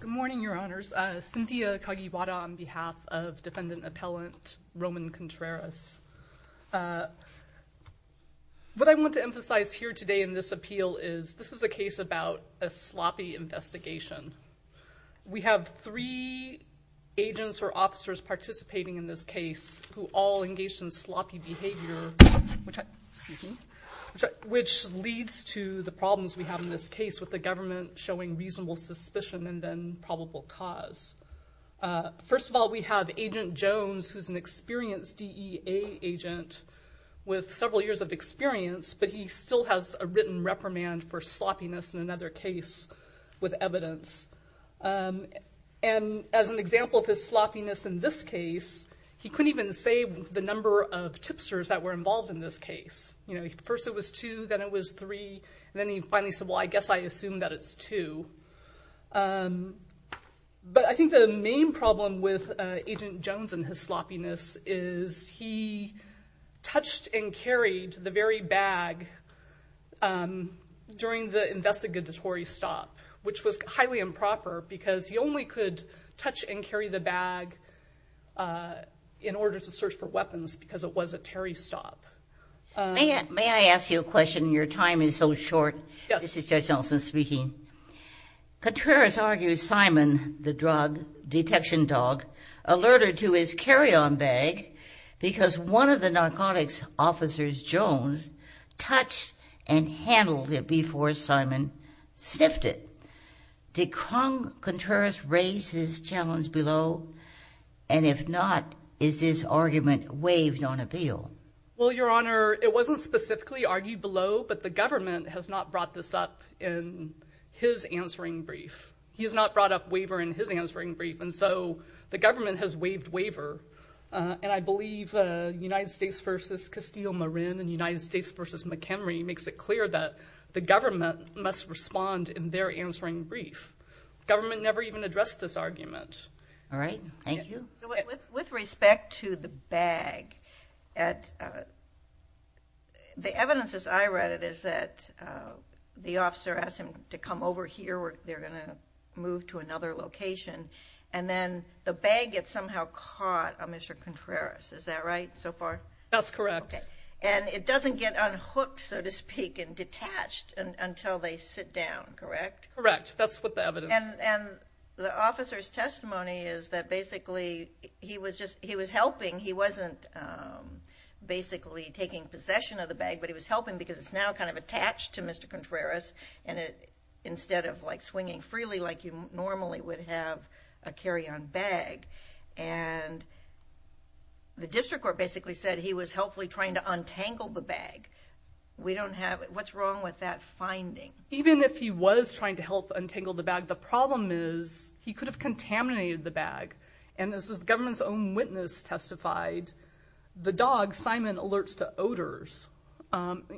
Good morning, your honors. Cynthia Kagiwara on behalf of defendant appellant Roman Contreras. What I want to emphasize here today in this appeal is this is a case about a sloppy investigation. We have three agents or officers participating in this case who all engaged in sloppy behavior, which leads to the problems we have in this case with the government showing reasonable suspicion and then probable cause. First of all, we have agent Jones who's an experienced DEA agent with several years of experience, but he still has a written reprimand for sloppiness in another case with evidence. And as an example of his sloppiness in this case, he couldn't even say the number of tipsters that were involved in this case. You know, first it was two, then it was two. But I think the main problem with agent Jones and his sloppiness is he touched and carried the very bag during the investigatory stop, which was highly improper because he only could touch and carry the bag in order to search for weapons because it was a Terry stop. May I ask you a question? Your time is so Contreras argues Simon, the drug detection dog, alerted to his carry-on bag because one of the narcotics officers, Jones, touched and handled it before Simon sniffed it. Did Krung Contreras raise his challenge below? And if not, is this argument waived on appeal? Well, Your Honor, it wasn't specifically argued below, but the government has not brought this up in his answering brief. He has not brought up waiver in his answering brief, and so the government has waived waiver. And I believe United States v. Castile-Marin and United States v. McHenry makes it clear that the government must respond in their answering brief. The government never even addressed this argument. All right, thank you. With respect to the bag, the evidence as I read it is that the officer asked him to come over here where they're going to move to another location, and then the bag gets somehow caught on Mr. Contreras. Is that right so far? That's correct. And it doesn't get unhooked, so to speak, and detached until they sit down, correct? Correct, that's what the evidence is. And the officer's just, he was helping. He wasn't basically taking possession of the bag, but he was helping because it's now kind of attached to Mr. Contreras, and instead of like swinging freely like you normally would have a carry-on bag. And the district court basically said he was helpfully trying to untangle the bag. We don't have, what's wrong with that finding? Even if he was trying to help untangle the bag, the problem is he could have contaminated the bag, and this is government's own witness testified. The dog, Simon, alerts to odors,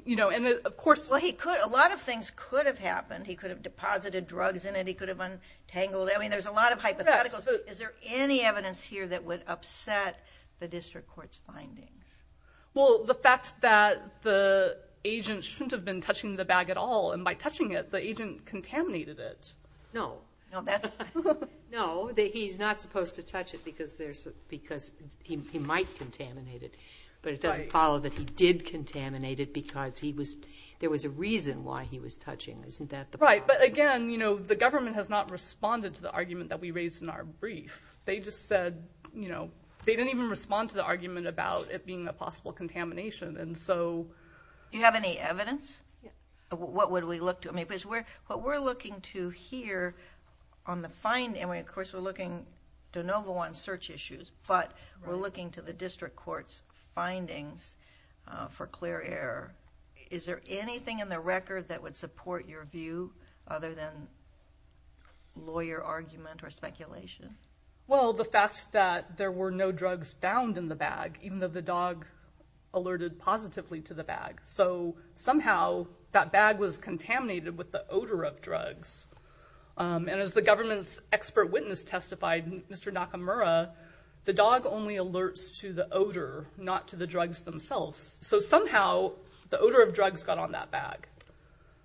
you know, and of course... Well, he could, a lot of things could have happened. He could have deposited drugs in it, he could have untangled it. I mean, there's a lot of hypotheticals. Is there any evidence here that would upset the district court's findings? Well, the fact that the agent shouldn't have been touching the bag at all, and by touching it, the agent contaminated it. No, no, he's not supposed to touch it because there's, because he might contaminate it, but it doesn't follow that he did contaminate it because he was, there was a reason why he was touching. Isn't that the problem? Right, but again, you know, the government has not responded to the argument that we raised in our brief. They just said, you know, they didn't even respond to the argument about it being a possible contamination, and so... Do you have any evidence? What would we look to? I mean, because we're, what we're looking to here on the find, and we, of course, we're looking de novo on search issues, but we're looking to the district court's findings for clear error. Is there anything in the record that would support your view other than lawyer argument or speculation? Well, the fact that there were no drugs found in the bag, even though the dog alerted positively to the bag, so somehow that bag was contaminated with the odor of drugs, and as the government's expert witness testified, Mr. Nakamura, the dog only alerts to the odor, not to the drugs themselves, so somehow the odor of drugs got on that bag,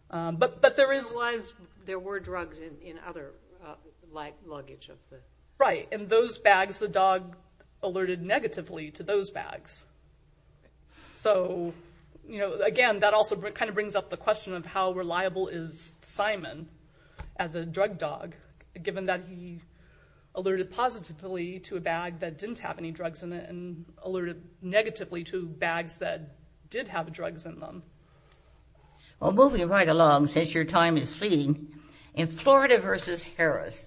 but there is... Otherwise, there were drugs in other luggage of the... Right, and those bags, the dog alerted negatively to those bags, so, you know, again, that also kind of brings up the question of how reliable is Simon as a drug dog, given that he alerted positively to a bag that didn't have any drugs in it, and alerted negatively to bags that did have drugs in them. Well, moving right along, since your time is fleeting, in Florida versus Harris,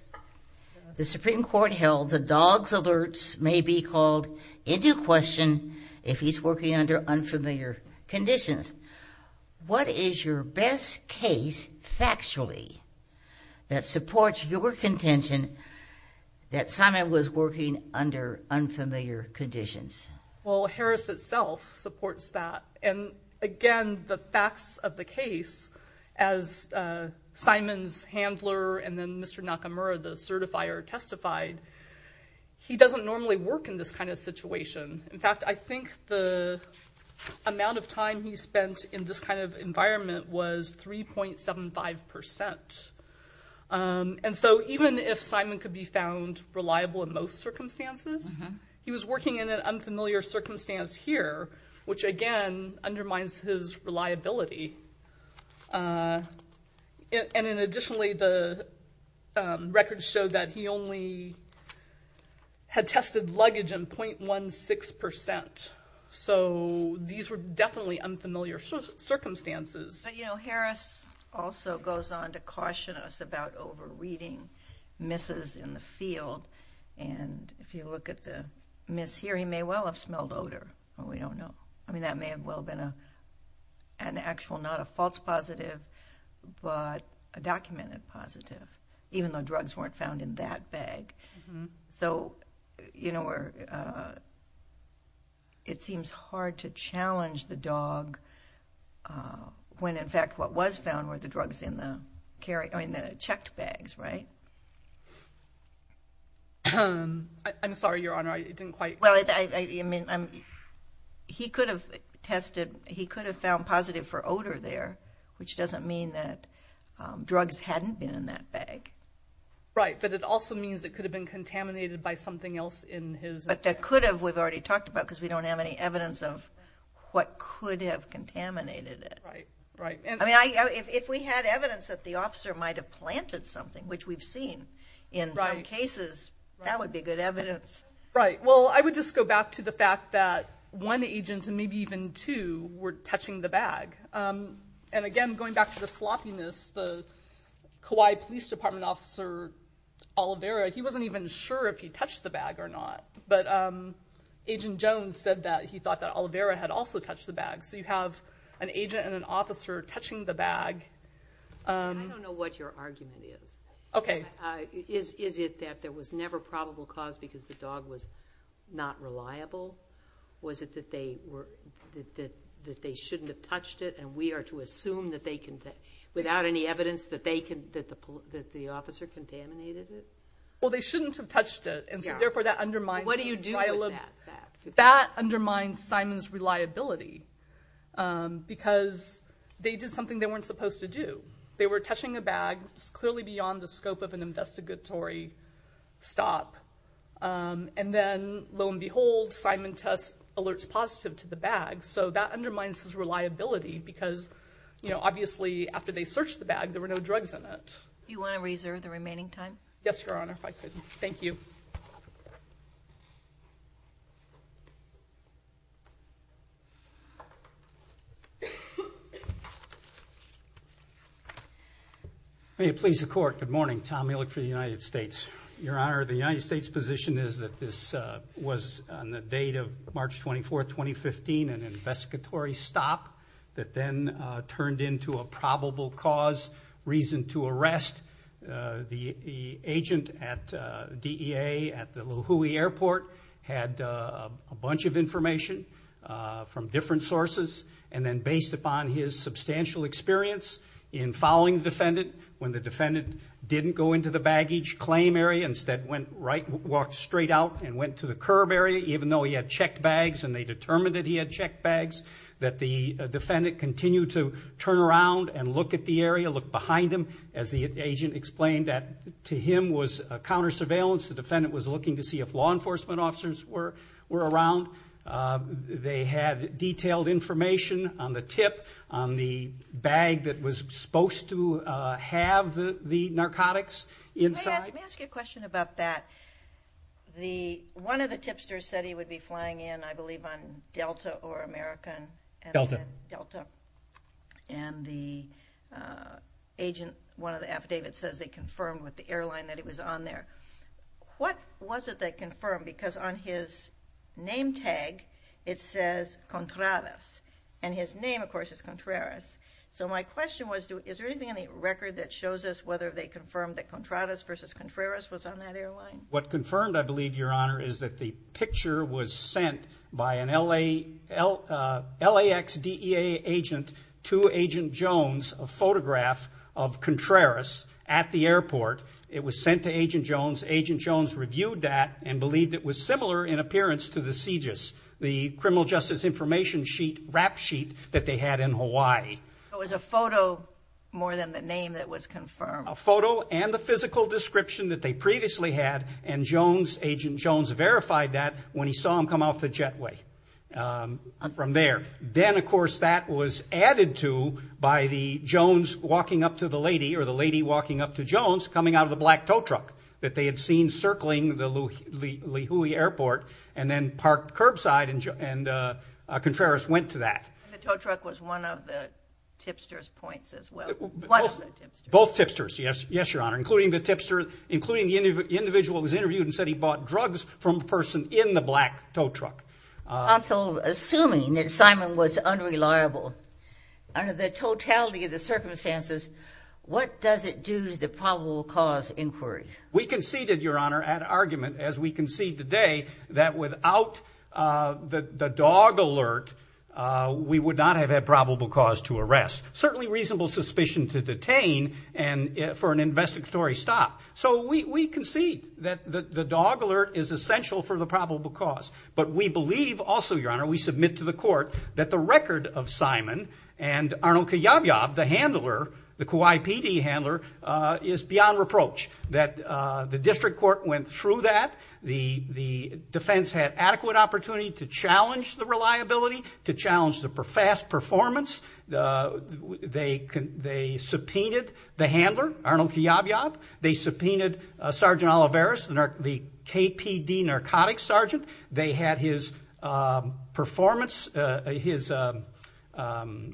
the Supreme Court held the dog's alerts may be called into question if he's working under unfamiliar conditions. What is your best case, factually, that supports your contention that Simon was working under unfamiliar conditions? Well, Harris itself supports that, and again, the facts of the case, as Simon's handler and then Mr. Nakamura, the certifier, testified, he doesn't normally work in this kind of situation. In fact, I think the amount of time that he spent in this kind of environment was 3.75%. And so, even if Simon could be found reliable in most circumstances, he was working in an unfamiliar circumstance here, which, again, undermines his reliability. And additionally, the records show that he only had tested luggage in 0.16%, so these were definitely unfamiliar circumstances. But, you know, Harris also goes on to caution us about over-reading misses in the field, and if you look at the miss here, he may well have smelled odor, but we don't know. I mean, that may have well been an actual, not a false positive, but a documented positive, even though drugs weren't found in that bag. So, you know, it seems hard to challenge the dog when, in fact, what was found were the drugs in the checked bags, right? I'm sorry, Your Honor, I didn't quite... Well, he could have tested, he could have found positive for odor there, which doesn't mean that drugs hadn't been in that bag. Right, but it also means it could have been contaminated by something else in his... But that could have, we've already talked about, because we don't have any evidence of what could have contaminated it. Right, right. I mean, if we had evidence that the officer might have planted something, which we've seen in some cases, that would be good evidence. Right, well, I would just go back to the fact that one agent, and maybe even two, were touching the bag. And again, going back to the sloppiness, the Kauai Police Department officer, Oliveira, he wasn't even sure if he touched the bag or not, but Agent Jones said that he thought that Oliveira had also touched the bag. So you have an agent and an officer touching the bag. I don't know what your argument is. Okay. Is it that there was never probable cause because the dog was not reliable? Was it that they were, that they shouldn't have touched it and we are to assume that they can, without any evidence, that they can, that the officer contaminated it? Well, they shouldn't have touched it, and so therefore that undermines... What do you do with that fact? That undermines Simon's reliability, because they did something they weren't supposed to do. They were touching a bag clearly beyond the scope of an investigatory stop. And then, lo and behold, Simon tests alerts positive to the bag. So that undermines his reliability, because, you know, obviously after they searched the bag, there were no drugs in it. You want to reserve the remaining time? Yes, Your Honor, if I could. Thank you. May it please the Court. Good morning. Tom Ehrlich for the United States. Your Honor, the United States' position is that this was on the date of March 24, 2015, an investigatory stop that then turned into a probable cause, reason to arrest. The agent at DEA at the La Jolla Airport had a bunch of information from different sources, and then based upon his substantial experience in following the defendant, when the defendant didn't go into the baggage claim area, instead walked straight out and went to the curb area, even though he had checked bags and they determined that he had checked bags, that the defendant continued to turn around and look at the area, look behind him. As the agent explained, that to him was counter surveillance. The defendant was looking to see if law enforcement officers were around. They had detailed information on the tip, on the bag that was supposed to have the narcotics inside. Let me ask you a question about that. One of the tipsters said he would be flying in, I believe, on Delta or American. Delta. Delta. And the agent, one of the affidavits says they confirmed with the airline that it was on there. What was it they confirmed? Because on his name tag, it says Contreras. And his name, of course, is Contreras. So my question was, is there anything in the record that shows us whether they confirmed that Contreras versus Contreras was on that airline? What confirmed, I believe, Your Honor, is that the picture was sent by an LAX DEA agent to Agent Jones, a photograph of Contreras at the airport. It was sent to and believed it was similar in appearance to the CJIS, the criminal justice information sheet, rap sheet, that they had in Hawaii. It was a photo more than the name that was confirmed. A photo and the physical description that they previously had, and Jones, Agent Jones, verified that when he saw him come off the jetway from there. Then, of course, that was added to by the Jones walking up to the lady, or the lady walking up to Jones, coming out of the black tow truck that they had seen circling the Lihue Airport, and then parked curbside, and Contreras went to that. The tow truck was one of the tipsters points as well. Both tipsters, yes, yes, Your Honor, including the tipster, including the individual who was interviewed and said he bought drugs from a person in the black tow truck. Counsel, assuming that Simon was unreliable, under the totality of the circumstances, what does it do to the probable cause inquiry? We conceded, Your Honor, at argument, as we concede today, that without the dog alert, we would not have had probable cause to arrest. Certainly reasonable suspicion to detain and for an investigatory stop. So we concede that the dog alert is essential for the probable cause, but we believe also, Your Honor, we submit to Simon and Arnold Kiyob-Yob, the handler, the Kauai PD handler, is beyond reproach. That the district court went through that. The defense had adequate opportunity to challenge the reliability, to challenge the fast performance. They subpoenaed the handler, Arnold Kiyob-Yob. They subpoenaed Sergeant Kiyob-Yob.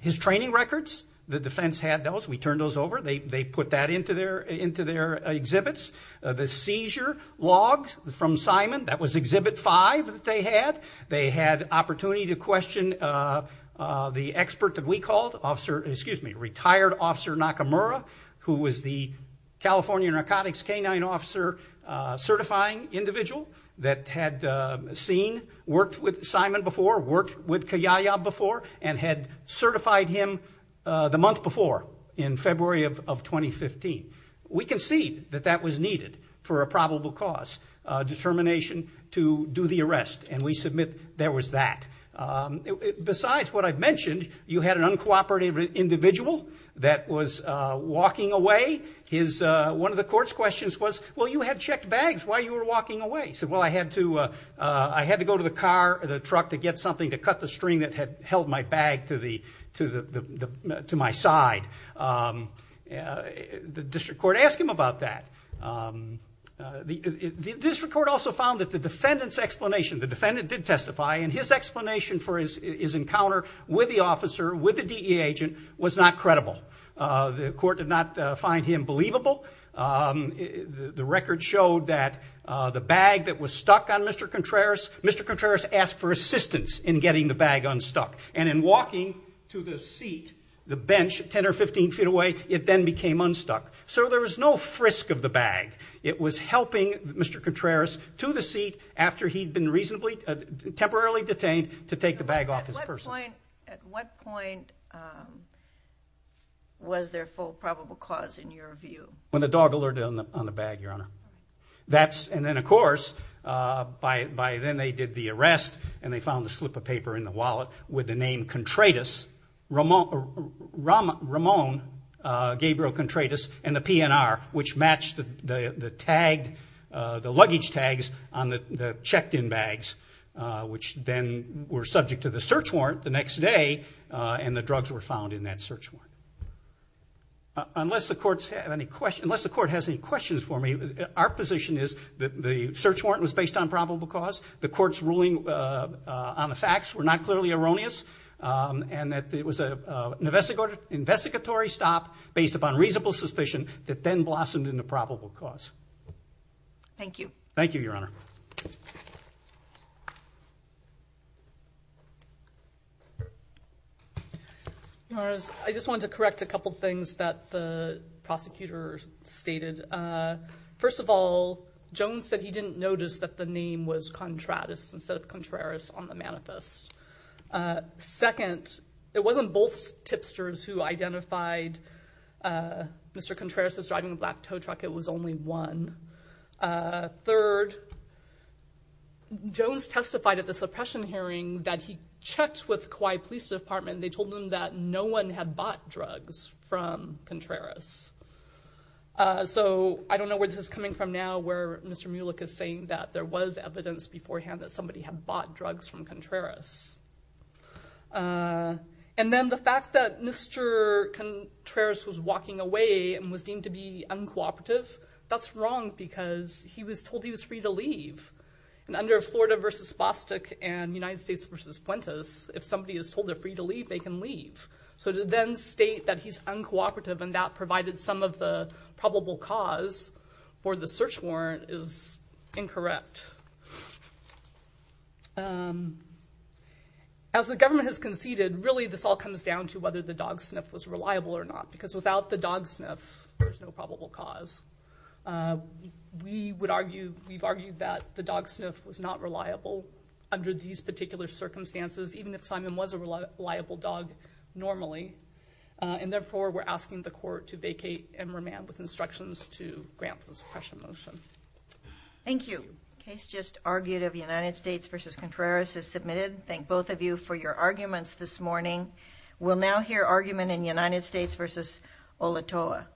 His training records, the defense had those. We turned those over. They put that into their exhibits. The seizure logs from Simon, that was exhibit five that they had. They had opportunity to question the expert that we called, retired officer Nakamura, who was the California narcotics canine officer certifying individual that had seen, worked with Kiyob-Yob before and had certified him the month before in February of 2015. We concede that that was needed for a probable cause determination to do the arrest and we submit there was that. Besides what I've mentioned, you had an uncooperative individual that was walking away. One of the court's questions was, well you had checked bags, why you were walking away? He said, well I had to go to the car or the truck to get something to cut the string that had held my bag to my side. The district court asked him about that. The district court also found that the defendant's explanation, the defendant did testify, and his explanation for his encounter with the officer, with the DEA agent, was not credible. The court did not find him believable. The record showed that the bag that was stuck on Mr. Contreras, Mr. Contreras asked for assistance in getting the bag unstuck and in walking to the seat, the bench, 10 or 15 feet away, it then became unstuck. So there was no frisk of the bag. It was helping Mr. Contreras to the seat after he'd been reasonably, temporarily detained to take the bag off his person. At what point was there full probable cause in your view? When the dog alerted on the bag, Your Honor. That's, and then of course, by then they did the arrest and they found a slip of paper in the wallet with the name Contreras, Ramon Gabriel Contreras, and the PNR, which matched the tag, the luggage tags on the checked-in bags, which then were subject to the search warrant the next day, and the drugs were found in that search warrant. Unless the courts have any questions, unless the court has any questions for me, our position is that the search warrant was based on probable cause, the court's ruling on the facts were not clearly erroneous, and that it was an investigatory stop based upon reasonable suspicion that then blossomed into probable cause. Thank you. Thank you, Your Honor. Your Honor, I just want to correct a couple things that the prosecutor stated. First of all, Jones said he didn't notice that the name was Contreras instead of Contreras on the manifest. Second, it wasn't both tipsters who identified Mr. Contreras as driving a black tow truck, it was only one. Third, Jones testified at the suppression hearing that he checked with Kauai Police Department, they told him that no one had bought drugs from Contreras. So I don't know where this is coming from now, where Mr. Mulek is saying that there was evidence beforehand that somebody had bought drugs from Contreras. And then the fact that Mr. Contreras was walking away and was deemed to be uncooperative, that's wrong because he was told he was free to leave. And under Florida v. Bostic and United States v. Fuentes, if somebody is told they're free to leave, they can leave. So to then state that he's uncooperative and that provided some of the probable cause for the search warrant is incorrect. As the government has conceded, really this all comes down to whether the dog sniff was reliable or not. Because without the dog sniff, there's no probable cause. We would argue, we've argued that the dog sniff was not reliable under these particular circumstances, even if Simon was a reliable dog normally. And therefore we're asking the court to vacate and remand with instructions to grant the suppression motion. Thank you. Case just argued of United States v. Contreras is submitted. Thank both of you for your arguments this morning. We'll now hear your argument in United States v. Olatoa.